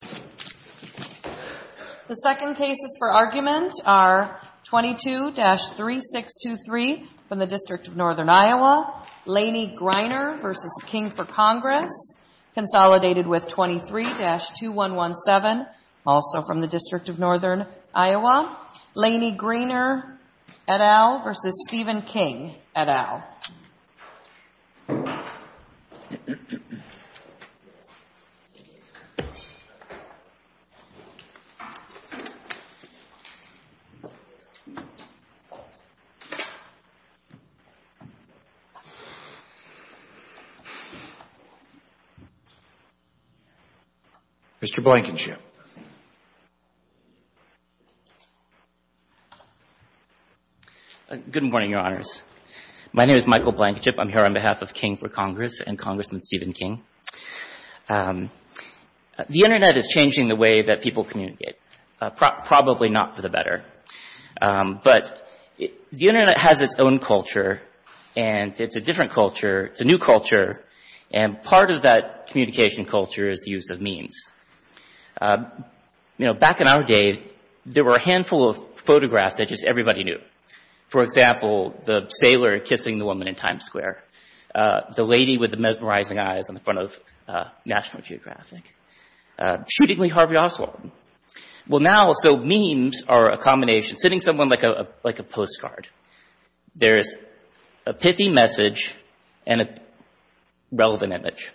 The second cases for argument are 22-3623 from the District of Northern Iowa, Laney Griner v. King for Congress, consolidated with 23-2117, also from the District of Northern Iowa, Laney Griner et al. v. Stephen King et al. Mr. Blankenship. Good morning, Your Honors. My name is Michael Blankenship. I'm here on behalf of King for Congress and Congressman Stephen King. The Internet is changing the way that people communicate. Probably not for the better. But the Internet has its own culture, and it's a different culture. It's a new culture, and part of that communication culture is the use of memes. You know, back in our day, there were a handful of photographs that just everybody knew. For example, the sailor kissing the woman in Times Square. The lady with the mesmerizing eyes in front of National Geographic. Shooting Lee Harvey Oswald. Well now, so memes are a combination. Sitting someone like a postcard. There's a pithy message and a relevant image.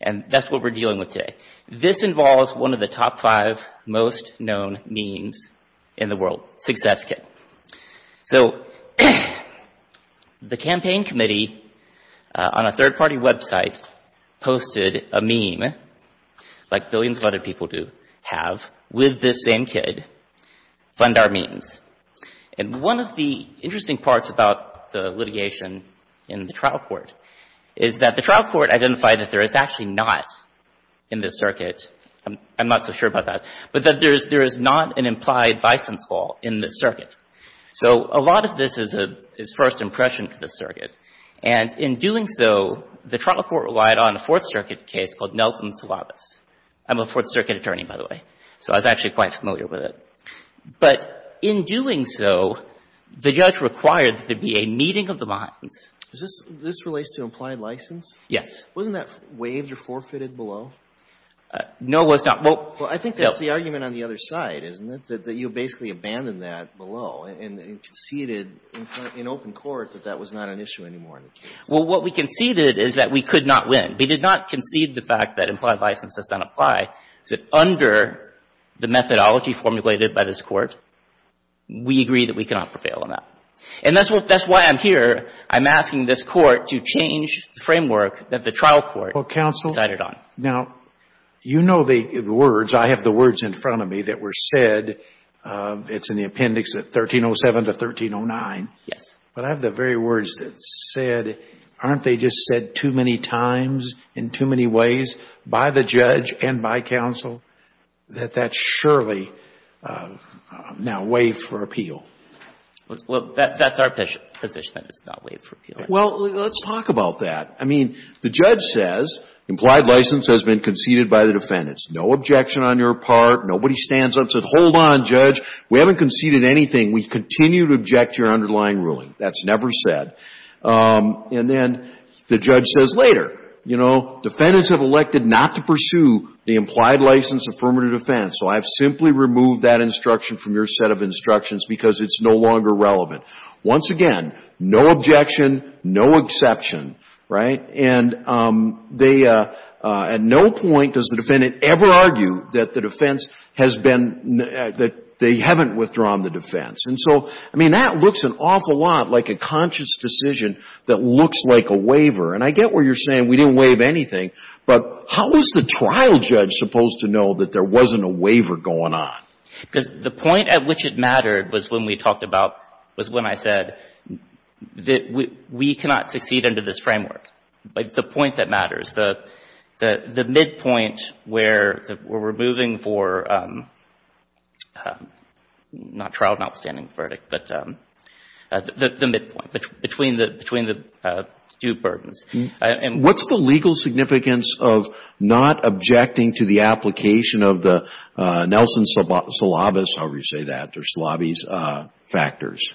And that's what we're dealing with today. This involves one of the top five most known memes in the world, Success Kit. So the campaign committee on a third-party website posted a meme, like billions of other people do have, with this same kid. Fund our memes. And one of the interesting parts about the litigation in the trial court is that the trial court identified that there is actually not in this circuit. I'm not so sure about that. But that there is not an implied license fall in this circuit. So a lot of this is first impression to the circuit. And in doing so, the trial court relied on a Fourth Circuit case called Nelson Salavas. I'm a Fourth Circuit attorney, by the way. So I was actually quite familiar with it. But in doing so, the judge required that there be a meeting of the minds. This relates to implied license? Yes. Wasn't that waived or forfeited below? No, it was not. Well, I think that's the argument on the other side, isn't it, that you basically abandoned that below and conceded in open court that that was not an issue anymore in the case? Well, what we conceded is that we could not win. We did not concede the fact that implied license does not apply. Under the methodology formulated by this Court, we agree that we cannot prevail on that. And that's why I'm here. I'm asking this Court to change the framework that the trial court decided on. Now, you know the words. I have the words in front of me that were said. It's in the appendix at 1307 to 1309. Yes. But I have the very words that said, aren't they just said too many times in too many ways by the judge and by counsel that that's surely now waived for appeal? Well, that's our position, that it's not waived for appeal. Well, let's talk about that. I mean, the judge says implied license has been conceded by the defendants. No objection on your part. Nobody stands up and says, hold on, judge. We haven't conceded anything. We continue to object to your underlying ruling. That's never said. And then the judge says later, you know, defendants have elected not to pursue the implied license affirmative defense, so I've simply removed that instruction from your set of instructions because it's no longer relevant. Once again, no objection, no exception. Right? And they at no point does the defendant ever argue that the defense has been that they haven't withdrawn the defense. And so, I mean, that looks an awful lot like a conscious decision that looks like a waiver. And I get where you're saying we didn't waive anything, but how is the trial judge supposed to know that there wasn't a waiver going on? Because the point at which it mattered was when we talked about, was when I said that we cannot succeed under this framework. The point that matters, the midpoint where we're moving for not trial, not standing verdict, but the midpoint between the two burdens. What's the legal significance of not objecting to the application of the Nelson Salavis, however you say that, or Salavis factors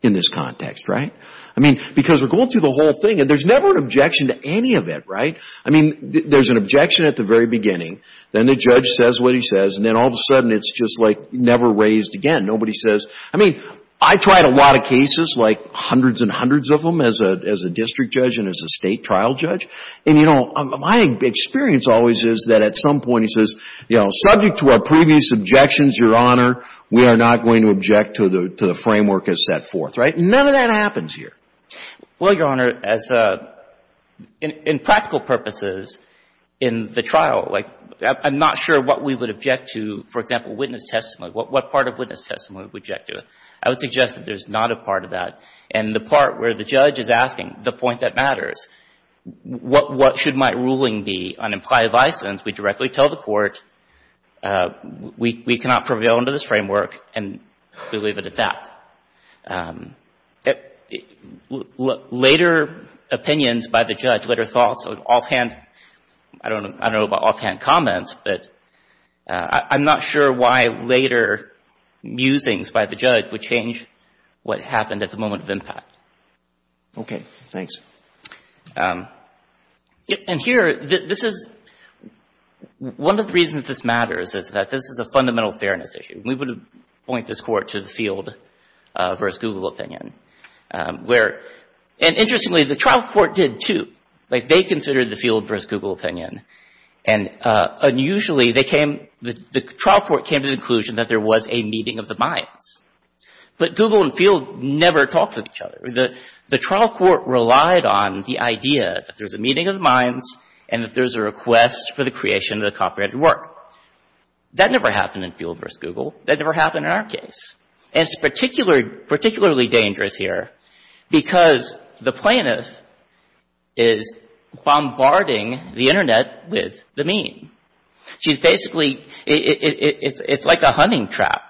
in this context, right? I mean, because we're going through the whole thing and there's never an objection to any of it, right? I mean, there's an objection at the very beginning, then the judge says what he says, and then all of a sudden it's just like never raised again. Nobody says, I mean, I tried a lot of cases, like hundreds and hundreds of them as a district judge and as a state trial judge. And, you know, my experience always is that at some point he says, you know, subject to our previous objections, Your Honor, we are not going to object to the framework as set forth, right? None of that happens here. Well, Your Honor, as a, in practical purposes in the trial, like I'm not sure what we would object to, for example, witness testimony. What part of witness testimony would we object to? I would suggest that there's not a part of that. And the part where the judge is asking the point that matters, what should my ruling be on implied license, we directly tell the court we cannot prevail under this framework and we leave it at that. Later opinions by the judge, later thoughts, offhand, I don't know about offhand comments, but I'm not sure why later musings by the judge would change what happened at the moment of impact. Okay. Thanks. And here, this is, one of the reasons this matters is that this is a fundamental fairness issue. We would point this court to the Field v. Google opinion, where, and interestingly, the trial court did too. Like, they considered the Field v. Google opinion, and unusually, they came, the trial court came to the conclusion that there was a meeting of the minds. But Google and Field never talked with each other. The trial court relied on the idea that there's a meeting of the minds and that there's a request for the creation of the copyrighted work. That never happened in Field v. Google. That never happened in our case. And it's particularly dangerous here because the plaintiff is bombarding the Internet with the meme. She's basically, it's like a hunting trap,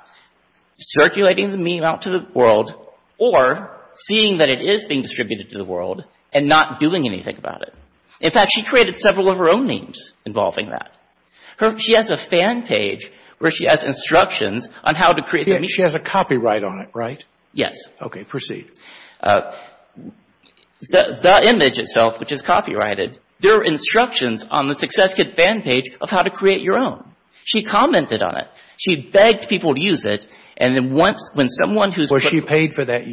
circulating the meme out to the world or seeing that it is being distributed to the world and not doing anything about it. In fact, she created several of her own memes involving that. She has a fan page where she has instructions on how to create the meme. She has a copyright on it, right? Yes. Okay. Proceed. The image itself, which is copyrighted, there are instructions on the Success Kit fan page of how to create your own. She commented on it. She begged people to use it, and then once, when someone who's For the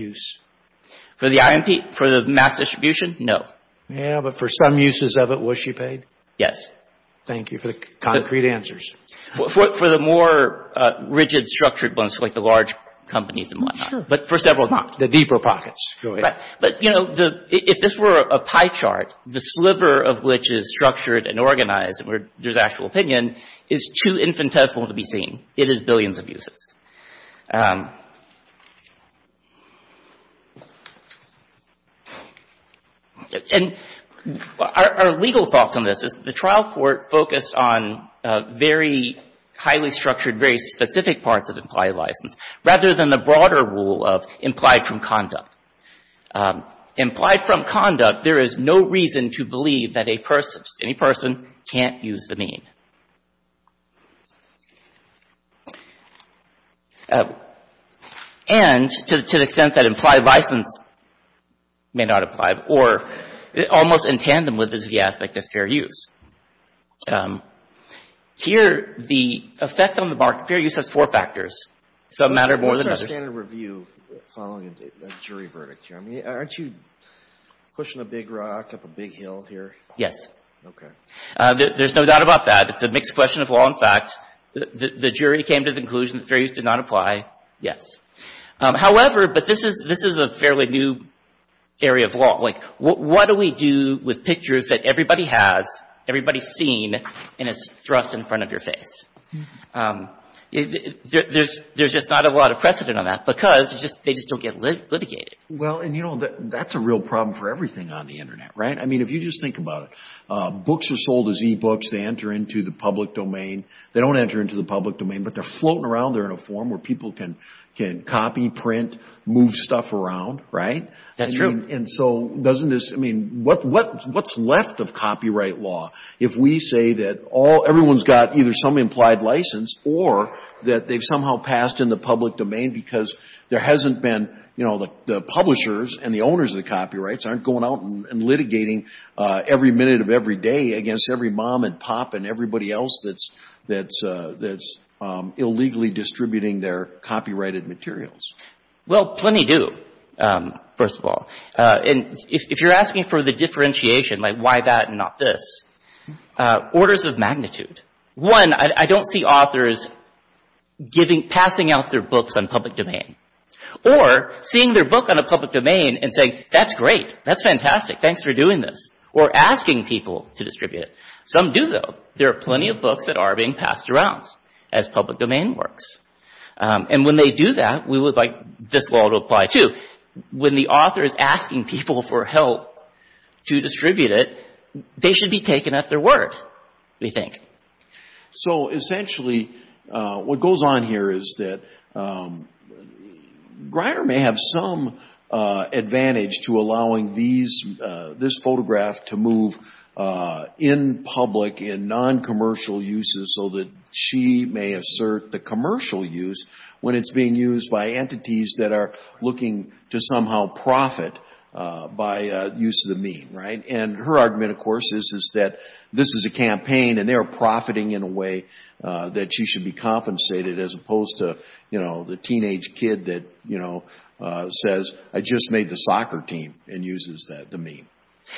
IMP, for the mass distribution? No. Yeah, but for some uses of it, was she paid? Yes. Thank you for the concrete answers. For the more rigid, structured ones, like the large companies and whatnot. Sure. But for several not. The deeper pockets. Go ahead. But, you know, if this were a pie chart, the sliver of which is structured and organized where there's actual opinion is too infinitesimal to be seen. It is billions of uses. And our legal thoughts on this is the trial court focused on very highly structured, very specific parts of implied license, rather than the broader rule of implied from conduct. Implied from conduct, there is no reason to believe that a person, any person, can't use the meme. And, to the extent that implied license may not apply, or almost in tandem with this, the aspect of fair use. Here, the effect on the market, fair use has four factors. It's a matter of more than. What's our standard review following a jury verdict here? I mean, aren't you pushing a big rock up a big hill here? Yes. Okay. There's no doubt about that. It's a mixed question of law and fact. The jury came to the conclusion that fair use did not apply. Yes. However, but this is a fairly new area of law. Like, what do we do with pictures that everybody has, everybody's seen, and it's thrust in front of your face? There's just not a lot of precedent on that because they just don't get litigated. Well, and, you know, that's a real problem for everything on the Internet, right? I mean, if you just think about it, books are sold as e-books. They enter into the public domain. They don't enter into the public domain, but they're floating around there in a form where people can copy, print, move stuff around, right? That's true. And so, doesn't this, I mean, what's left of copyright law if we say that everyone's got either some implied license or that they've somehow passed in the public domain because there hasn't been, you know, the publishers and the owners of the copyrights aren't going out and litigating every minute of every day against every mom and pop and everybody else that's illegally distributing their copyrighted materials? Well, plenty do, first of all. And if you're asking for the differentiation, like why that and not this, orders of magnitude. One, I don't see authors giving, passing out their books on public domain. Or seeing their book on a public domain and saying, that's great, that's fantastic, thanks for doing this. Or asking people to distribute it. Some do, though. There are plenty of books that are being passed around as public domain works. And when they do that, we would like this law to apply, too. When the author is asking people for help to distribute it, they should be taken at their word, we think. So, essentially, what goes on here is that Greiner may have some advantage to allowing these, this photograph to move in public in non-commercial uses so that she may assert the commercial use when it's being used by entities that are looking to somehow profit by use of the meme, right? And her argument, of course, is that this is a campaign and they are profiting in a way that she should be compensated, as opposed to, you know, the teenage kid that, you know, says, I just made the soccer team and uses the meme.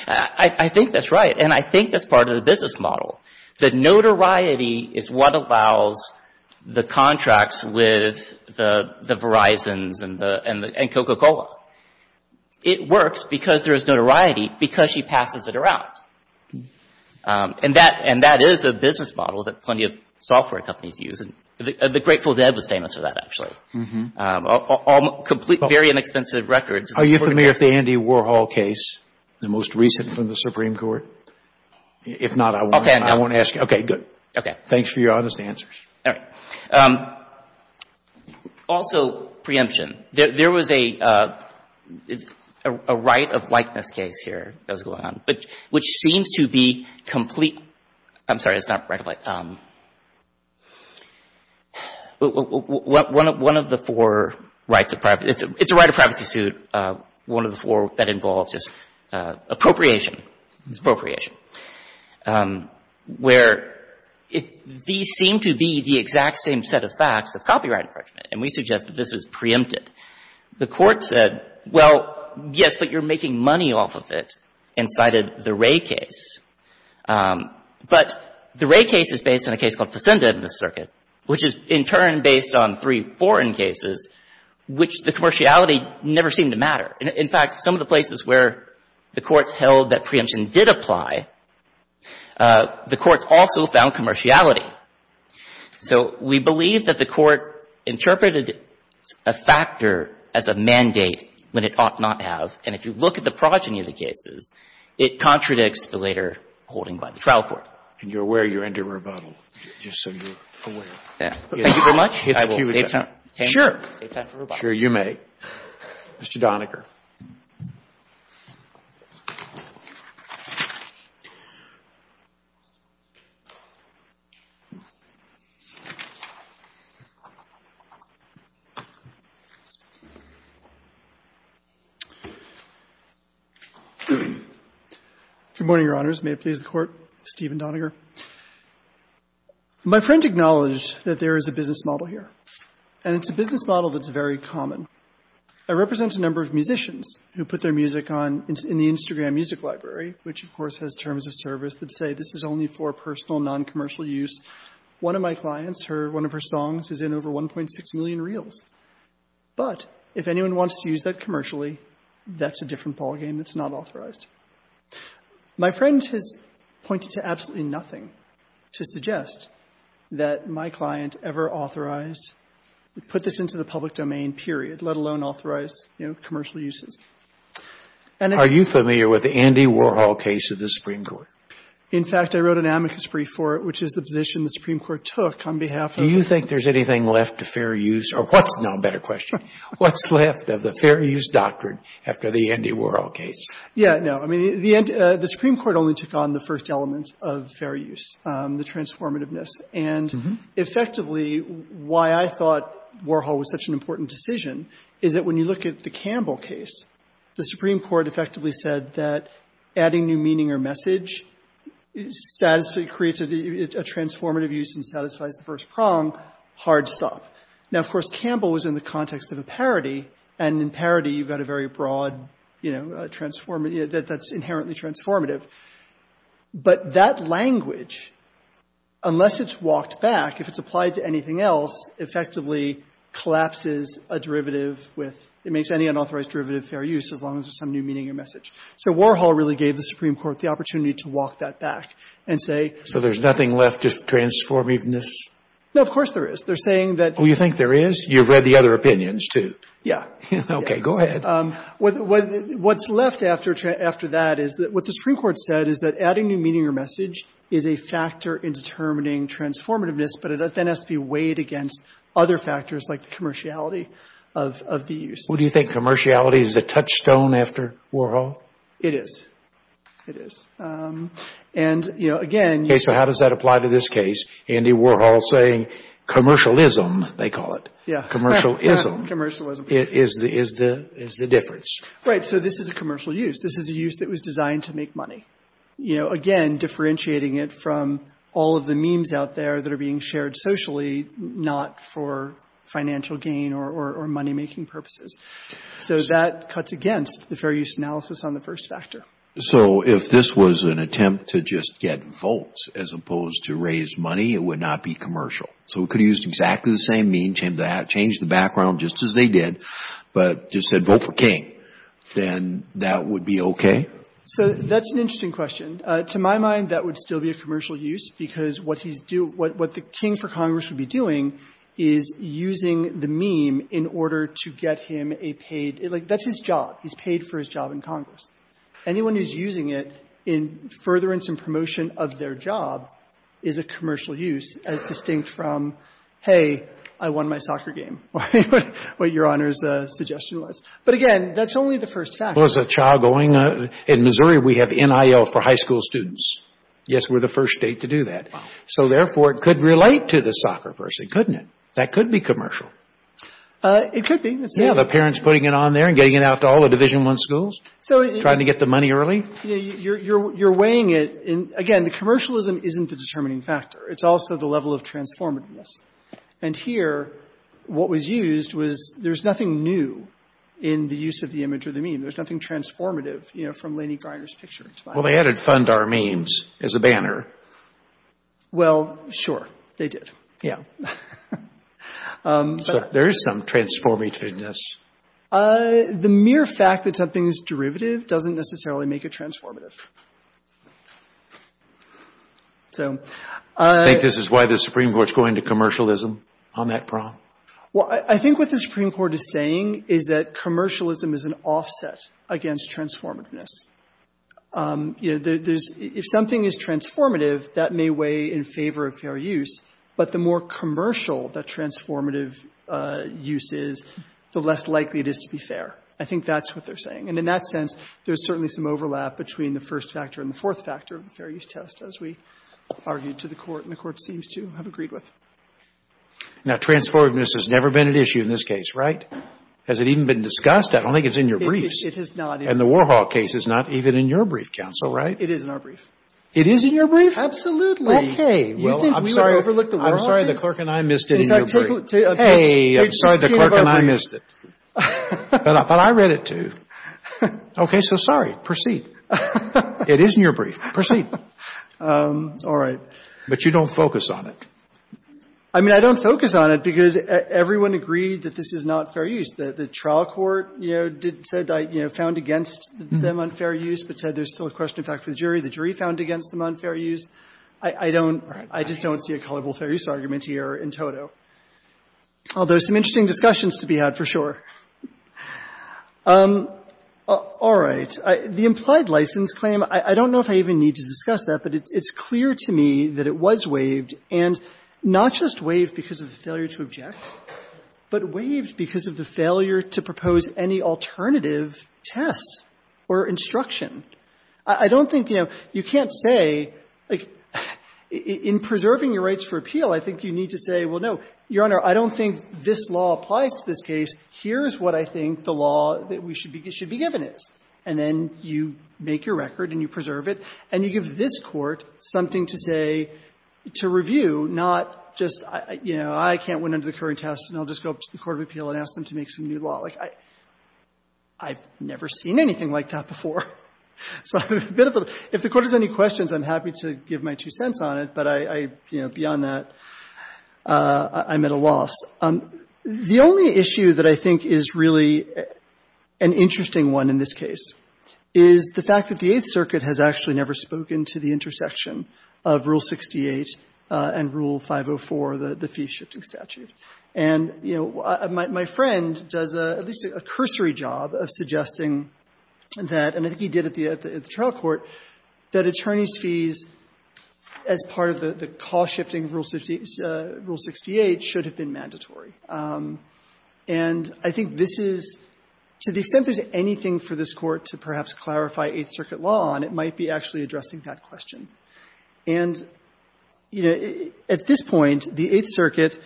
I think that's right. And I think that's part of the business model. The notoriety is what allows the contracts with the Verizons and Coca-Cola. It works because there is notoriety because she passes it around. And that is a business model that plenty of software companies use. And the Grateful Dead was famous for that, actually. Very inexpensive records. Are you familiar with the Andy Warhol case, the most recent from the Supreme Court? If not, I won't ask you. Okay, good. Thanks for your honest answers. All right. Also, preemption. There was a right of likeness case here that was going on, which seems to be complete. I'm sorry, it's not right of likeness. One of the four rights of privacy, it's a right of privacy suit. One of the four that involves is appropriation. It's appropriation. Where these seem to be the exact same set of facts as copyright infringement. And we suggest that this is preempted. The court said, well, yes, but you're making money off of it, and cited the Wray case. But the Wray case is based on a case called Facenda in this circuit, which is in turn based on three foreign cases, which the commerciality never seemed to matter. In fact, some of the places where the courts held that preemption did apply, the courts also found commerciality. So we believe that the court interpreted a factor as a mandate when it ought not to have. And if you look at the progeny of the cases, it contradicts the later holding by the trial court. And you're aware you're under rebuttal, just so you're aware. Thank you very much. I will save time. Sure. Save time for rebuttal. Sure, you may. Mr. Doniger. Good morning, Your Honors. May it please the Court, Stephen Doniger. My friend acknowledged that there is a business model here. And it's a business model that's very common. It represents a number of musicians who put their music on in the Instagram music library, which, of course, has terms of service that say this is only for personal, noncommercial use. One of my clients, one of her songs is in over 1.6 million reels. But if anyone wants to use that commercially, that's a different ballgame that's not authorized. My friend has pointed to absolutely nothing to suggest that my client ever authorized to put this into the public domain, period, let alone authorized, you know, commercial uses. Are you familiar with the Andy Warhol case of the Supreme Court? In fact, I wrote an amicus brief for it, which is the position the Supreme Court took on behalf of the court. Do you think there's anything left to fair use? Or what's now a better question? What's left of the fair use doctrine after the Andy Warhol case? Yeah, no. I mean, the Supreme Court only took on the first element of fair use, the transformativeness. And effectively, why I thought Warhol was such an important decision is that when you look at the Campbell case, the Supreme Court effectively said that adding new meaning or message creates a transformative use and satisfies the first prong. Hard stop. Now, of course, Campbell was in the context of a parody. And in parody, you've got a very broad, you know, that's inherently transformative. But that language, unless it's walked back, if it's applied to anything else, effectively collapses a derivative with — it makes any unauthorized derivative fair use as long as there's some new meaning or message. So Warhol really gave the Supreme Court the opportunity to walk that back and say — So there's nothing left to transformativeness? No, of course there is. They're saying that — Oh, you think there is? You read the other opinions, too. Yeah. Okay. Go ahead. What's left after that is that what the Supreme Court said is that adding new meaning is a factor in determining transformativeness, but it then has to be weighed against other factors like the commerciality of the use. Well, do you think commerciality is a touchstone after Warhol? It is. It is. And, you know, again — Okay. So how does that apply to this case? Andy Warhol saying commercialism, they call it. Yeah. Commercialism. Commercialism. Is the difference. Right. So this is a commercial use. This is a use that was designed to make money. You know, again, differentiating it from all of the memes out there that are being shared socially, not for financial gain or money-making purposes. So that cuts against the fair use analysis on the first factor. So if this was an attempt to just get votes as opposed to raise money, it would not be commercial. So we could have used exactly the same meme, changed the background just as they did, but just said vote for King. Then that would be okay? So that's an interesting question. To my mind, that would still be a commercial use because what he's doing — what the King for Congress would be doing is using the meme in order to get him a paid — like, that's his job. He's paid for his job in Congress. Anyone who's using it in furtherance and promotion of their job is a commercial use, as distinct from, hey, I won my soccer game, what Your Honor's suggestion was. But, again, that's only the first factor. Well, as a child going — in Missouri, we have NIL for high school students. Yes, we're the first state to do that. So, therefore, it could relate to the soccer person, couldn't it? That could be commercial. It could be. Yeah, the parents putting it on there and getting it out to all the Division I schools, trying to get the money early. You're weighing it. Again, the commercialism isn't the determining factor. It's also the level of transformativeness. And here, what was used was there's nothing new in the use of the image or the meme. There's nothing transformative, you know, from Lanny Greiner's picture. Well, they added fundar memes as a banner. Well, sure, they did. Yeah. So, there is some transformativeness. The mere fact that something's derivative doesn't necessarily make it transformative. Do you think this is why the Supreme Court's going to commercialism on that prong? Well, I think what the Supreme Court is saying is that commercialism is an offset against transformativeness. You know, if something is transformative, that may weigh in favor of fair use. But the more commercial the transformative use is, the less likely it is to be fair. I think that's what they're saying. And in that sense, there's certainly some overlap between the first factor and the fourth factor of the fair use test, as we argued to the Court, and the Court seems to have agreed with. Now, transformativeness has never been an issue in this case, right? Has it even been discussed? I don't think it's in your briefs. It has not. And the Warhawk case is not even in your brief, counsel, right? It is in our brief. It is in your brief? Absolutely. Okay. You think we overlooked the Warhawk case? I'm sorry the clerk and I missed it in your brief. Hey, I'm sorry the clerk and I missed it. But I read it too. Okay, so sorry. Proceed. It is in your brief. Proceed. All right. But you don't focus on it. I mean, I don't focus on it because everyone agreed that this is not fair use. The trial court, you know, said I found against them unfair use, but said there's still a question in fact for the jury. The jury found against them unfair use. I don't see a culpable fair use argument here in toto. Although some interesting discussions to be had, for sure. All right. The implied license claim, I don't know if I even need to discuss that, but it's clear to me that it was waived, and not just waived because of the failure to object, but waived because of the failure to propose any alternative test or instruction. I don't think, you know, you can't say, like, in preserving your rights for appeal, I think you need to say, well, no, Your Honor, I don't think this law applies to this case. Here's what I think the law that we should be given is. And then you make your record and you preserve it, and you give this Court something to say, to review, not just, you know, I can't win under the current test, and I'll just go up to the court of appeal and ask them to make some new law. Like, I've never seen anything like that before. So if the Court has any questions, I'm happy to give my two cents on it. But I, you know, beyond that, I'm at a loss. The only issue that I think is really an interesting one in this case is the fact that the Eighth Circuit has actually never spoken to the intersection of Rule 68 and Rule 504, the fee-shifting statute. And, you know, my friend does at least a cursory job of suggesting that, and I think he did at the trial court, that attorneys' fees as part of the cost-shifting of Rule 68 should have been mandatory. And I think this is, to the extent there's anything for this Court to perhaps clarify Eighth Circuit law on, it might be actually addressing that question. And, you know, at this point, the Eighth Circuit,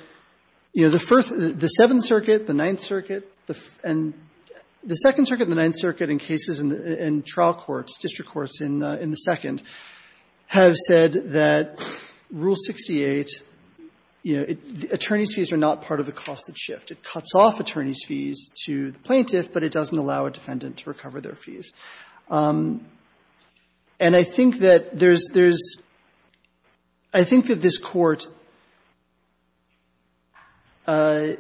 you know, the First — the Seventh Circuit, the Ninth Circuit, and the Second Circuit and the Ninth Circuit in cases in trial courts, district courts in the Second, have said that Rule 68, you know, attorneys' fees are not part of the cost of shift. It cuts off attorneys' fees to the plaintiff, but it doesn't allow a defendant to recover their fees. And I think that there's — I think that this Court — I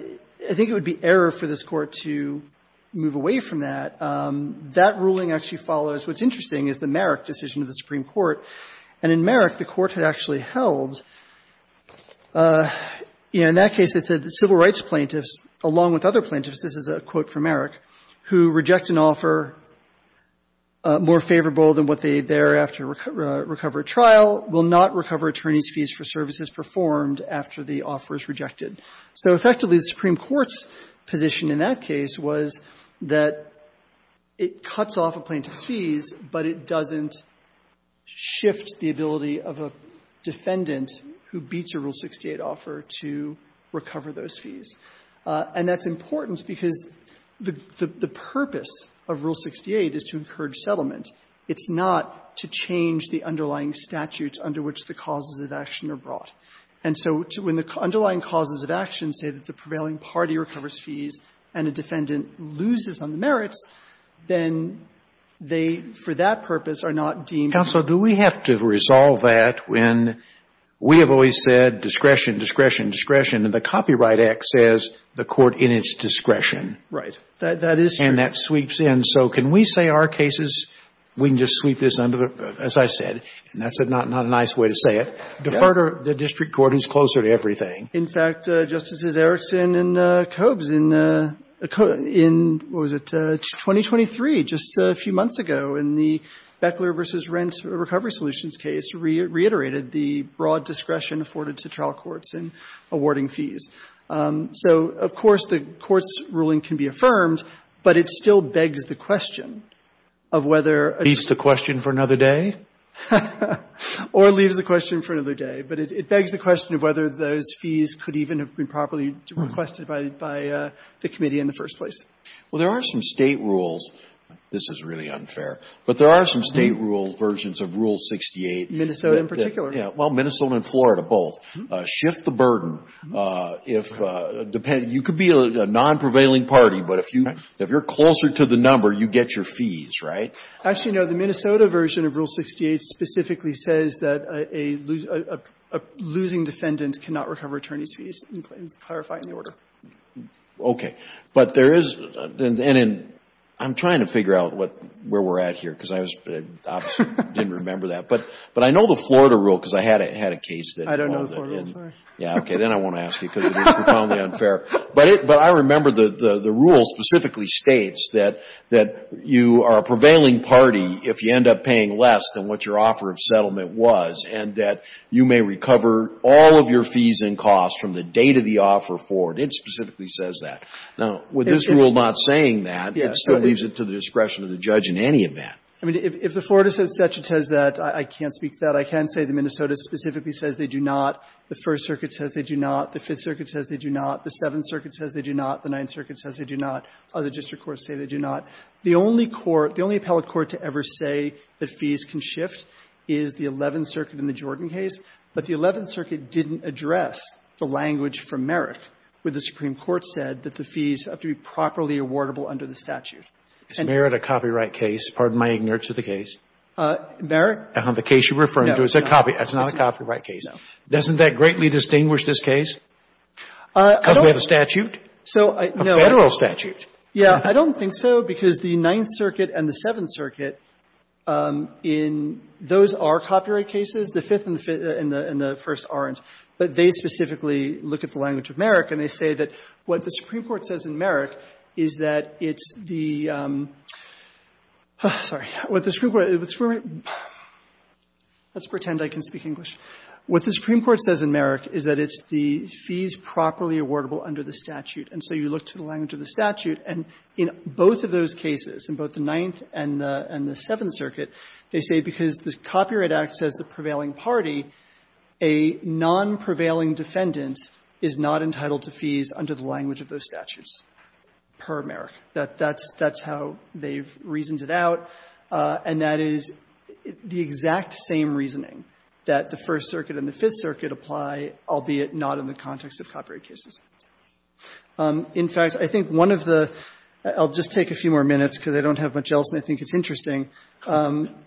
think it would be error for this Court to move away from that. That ruling actually follows — what's interesting is the Merrick decision of the Supreme Court. And in Merrick, the Court had actually held, you know, in that case it said that civil rights plaintiffs, along with other plaintiffs — this is a quote from Merrick — who reject an offer more favorable than what they thereafter recover at trial will not recover attorneys' fees for services performed after the offer is rejected. So effectively, the Supreme Court's position in that case was that it cuts off a plaintiff's fees, but it doesn't shift the ability of a defendant who beats a Rule 68 offer to recover those fees. And that's important because the purpose of Rule 68 is to encourage settlement. It's not to change the underlying statutes under which the causes of action are brought. And so when the underlying causes of action say that the prevailing party recovers fees and a defendant loses on the Merricks, then they, for that purpose, are not deemed to be — Kennedy. Counsel, do we have to resolve that when we have always said discretion, discretion, discretion, and the Copyright Act says the Court in its discretion. Right. That is true. And that sweeps in. So can we say our cases, we can just sweep this under the — as I said, and that's not a nice way to say it, defer to the district court, who's closer to everything. In fact, Justices Erickson and Koobs, in — what was it, 2023, just a few months ago, in the Beckler v. Rent Recovery Solutions case, reiterated the broad discretion afforded to trial courts in awarding fees. So, of course, the Court's ruling can be affirmed, but it still begs the question of whether — Leaves the question for another day? Or leaves the question for another day. But it begs the question of whether those fees could even have been properly requested by the committee in the first place. Well, there are some State rules — this is really unfair — but there are some State rule versions of Rule 68. Minnesota in particular. Yeah. Well, Minnesota and Florida both. Shift the burden if — you could be a non-prevailing party, but if you're closer to the number, you get your fees, right? Actually, no. The Minnesota version of Rule 68 specifically says that a losing defendant cannot recover attorney's fees, and it's clarifying the order. Okay. But there is — and in — I'm trying to figure out what — where we're at here, because I was — I didn't remember that. But I know the Florida rule, because I had a case that involved it. I don't know the Florida rule, sorry. Yeah, okay. Then I won't ask you, because it is profoundly unfair. But I remember the rule specifically states that you are a prevailing party if you end up paying less than what your offer of settlement was, and that you may recover all of your fees and costs from the date of the offer forward. It specifically says that. Now, with this rule not saying that, it still leaves it to the discretion of the judge in any event. I mean, if the Florida section says that, I can't speak to that. I can say the Minnesota specifically says they do not. The First Circuit says they do not. The Fifth Circuit says they do not. The Seventh Circuit says they do not. The Ninth Circuit says they do not. Other district courts say they do not. The only court — the only appellate court to ever say that fees can shift is the Eleventh Circuit in the Jordan case. But the Eleventh Circuit didn't address the language from Merrick where the Supreme Court said that the fees have to be properly awardable under the statute. Is Merrick a copyright case? Pardon my ignorance of the case. Merrick? The case you're referring to. It's a copy — it's not a copyright case. No. Doesn't that greatly distinguish this case? Because we have a statute? So I — no. A Federal statute. Yeah. I don't think so, because the Ninth Circuit and the Seventh Circuit in — those are copyright cases. The Fifth and the — and the First aren't. But they specifically look at the language of Merrick, and they say that what the Supreme Court says in Merrick is that it's the — sorry. What the Supreme Court — let's pretend I can speak English. What the Supreme Court says in Merrick is that it's the fees properly awardable under the statute. And so you look to the language of the statute. And in both of those cases, in both the Ninth and the — and the Seventh Circuit, they say because the Copyright Act says the prevailing party, a non-prevailing defendant is not entitled to fees under the language of those statutes per Merrick. That's how they've reasoned it out. And that is the exact same reasoning that the First Circuit and the Fifth Circuit apply, albeit not in the context of copyright cases. In fact, I think one of the — I'll just take a few more minutes, because I don't have much else, and I think it's interesting.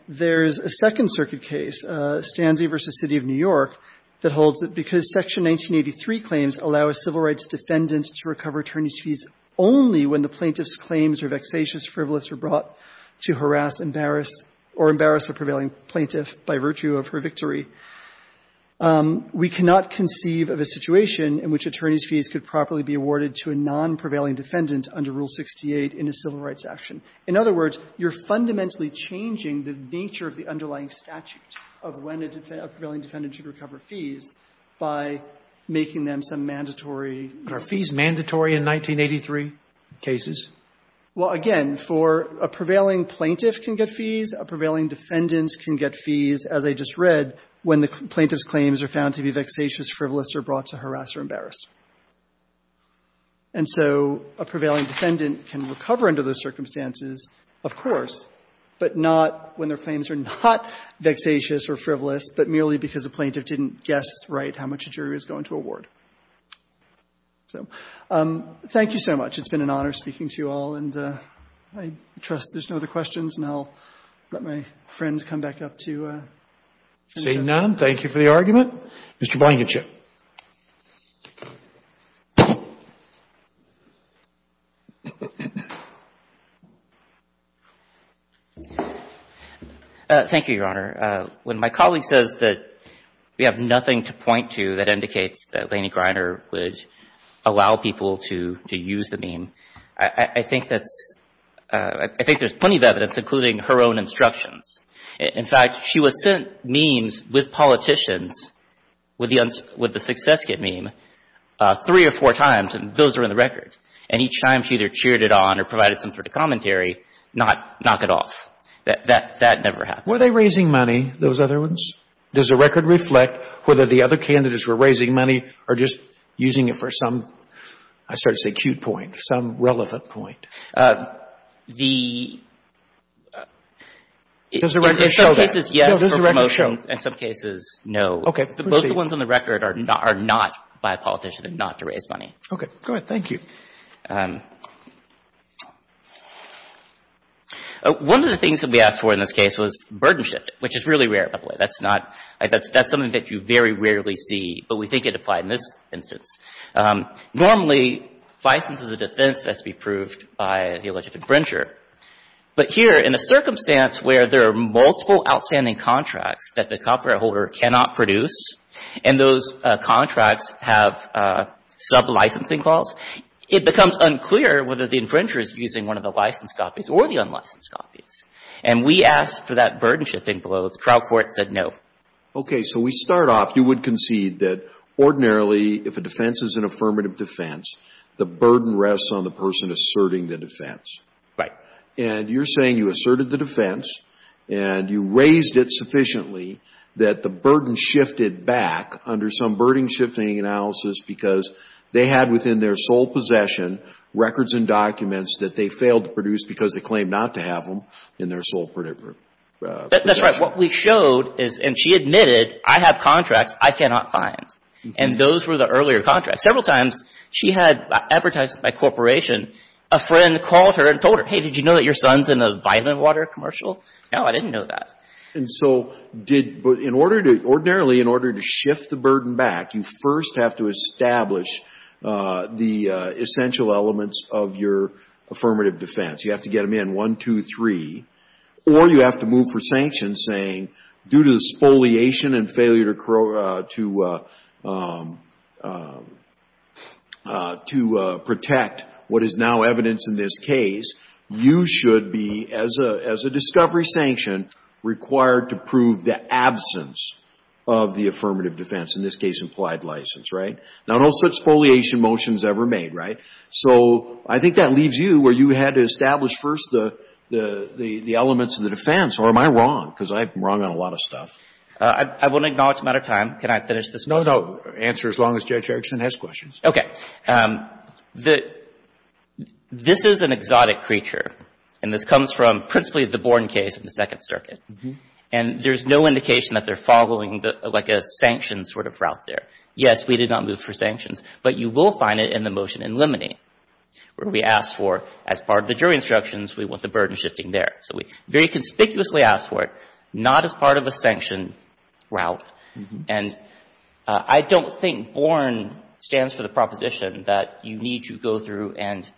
There's a Second Circuit case, Stanzi v. City of New York, that holds that because Section 1983 claims allow a civil rights defendant to recover attorneys' fees only when the plaintiff's claims are vexatious, frivolous, or brought to harass, embarrass or embarrass a prevailing plaintiff by virtue of her victory, we cannot conceive of a situation in which attorneys' fees could properly be awarded to a non-prevailing defendant under Rule 68 in a civil rights action. In other words, you're fundamentally changing the nature of the underlying statute of when a prevailing defendant should recover fees by making them some mandatory Robertson Are fees mandatory in 1983 cases? Gershengorn Well, again, for a prevailing plaintiff can get fees, a prevailing defendant can get fees, as I just read, when the plaintiff's claims are found to be vexatious, frivolous, or brought to harass or embarrass. And so a prevailing defendant can recover under those circumstances, of course, but not when their claims are not vexatious or frivolous, but merely because a plaintiff didn't guess right how much a jury was going to award. So thank you so much. It's been an honor speaking to you all, and I trust there's no other questions, and I'll let my friend come back up to you. Roberts See none. Thank you for the argument. Mr. Blankenship. Blankenship Thank you, Your Honor. When my colleague says that we have nothing to point to that indicates that Lanie Griner would allow people to use the meme, I think that's – I think there's plenty of evidence, including her own instructions. In fact, she was sent memes with politicians with the success kit meme three or four times, and those are in the record. And each time she either cheered it on or provided some sort of commentary, not knock it off. That never happened. Were they raising money, those other ones? Does the record reflect whether the other candidates were raising money or just using it for some – I started to say cute point, some relevant point? The – Does the record show that? In some cases, yes, for promotion. Does the record show? In some cases, no. Okay. Both the ones on the record are not by a politician and not to raise money. Okay. Go ahead. Thank you. One of the things that we asked for in this case was burden shift, which is really rare, by the way. That's not – that's something that you very rarely see, but we think it applied in this instance. Normally, license as a defense has to be approved by the alleged infringer. But here, in a circumstance where there are multiple outstanding contracts that the copyright holder cannot produce, and those contracts have sub-licensing calls, it becomes unclear whether the infringer is using one of the licensed copies or the unlicensed copies. And we asked for that burden shifting below. The trial court said no. Okay. So we start off – you would concede that ordinarily, if a defense is an affirmative defense, the burden rests on the person asserting the defense. Right. And you're saying you asserted the defense, and you raised it sufficiently that the burden shifted back under some burden shifting analysis because they had, within their sole possession, records and documents that they failed to produce because they claimed not to have them in their sole possession. That's right. What we showed is – and she admitted, I have contracts I cannot find. And those were the earlier contracts. Several times, she had – advertised by a corporation, a friend called her and told her, hey, did you know that your son's in a vitamin water commercial? No, I didn't know that. And so did – but in order to – ordinarily, in order to shift the burden back, you first have to establish the essential elements of your affirmative defense. You have to get them in, one, two, three, or you have to move for sanctions saying due to the spoliation and failure to protect what is now evidence in this case, you should be, as a discovery sanction, required to prove the absence of the affirmative defense. In this case, implied license, right? Now, no such spoliation motion is ever made, right? So I think that leaves you where you had to establish first the elements of the defense. Or am I wrong? Because I'm wrong on a lot of stuff. I wouldn't acknowledge them out of time. Can I finish this one? No, no. Answer as long as Judge Erickson has questions. Okay. The – this is an exotic creature. And this comes from principally the Bourne case in the Second Circuit. And there's no indication that they're following like a sanctions sort of route there. Yes, we did not move for sanctions. But you will find it in the motion in Lemony where we ask for, as part of the jury instructions, we want the burden shifting there. So we very conspicuously ask for it, not as part of a sanction route. And I don't think Bourne stands for the proposition that you need to go through and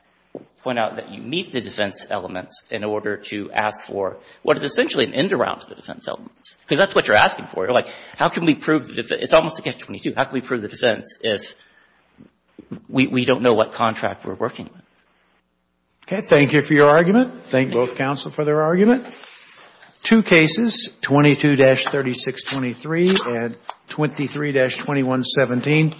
point out that you meet the defense elements in order to ask for what is essentially an end around to the defense elements. Because that's what you're asking for. You're like, how can we prove the – it's almost against 22. How can we prove the defense if we don't know what contract we're working with? Okay. Thank you for your argument. Thank both counsel for their argument. Two cases, 22-3623 and 23-2117.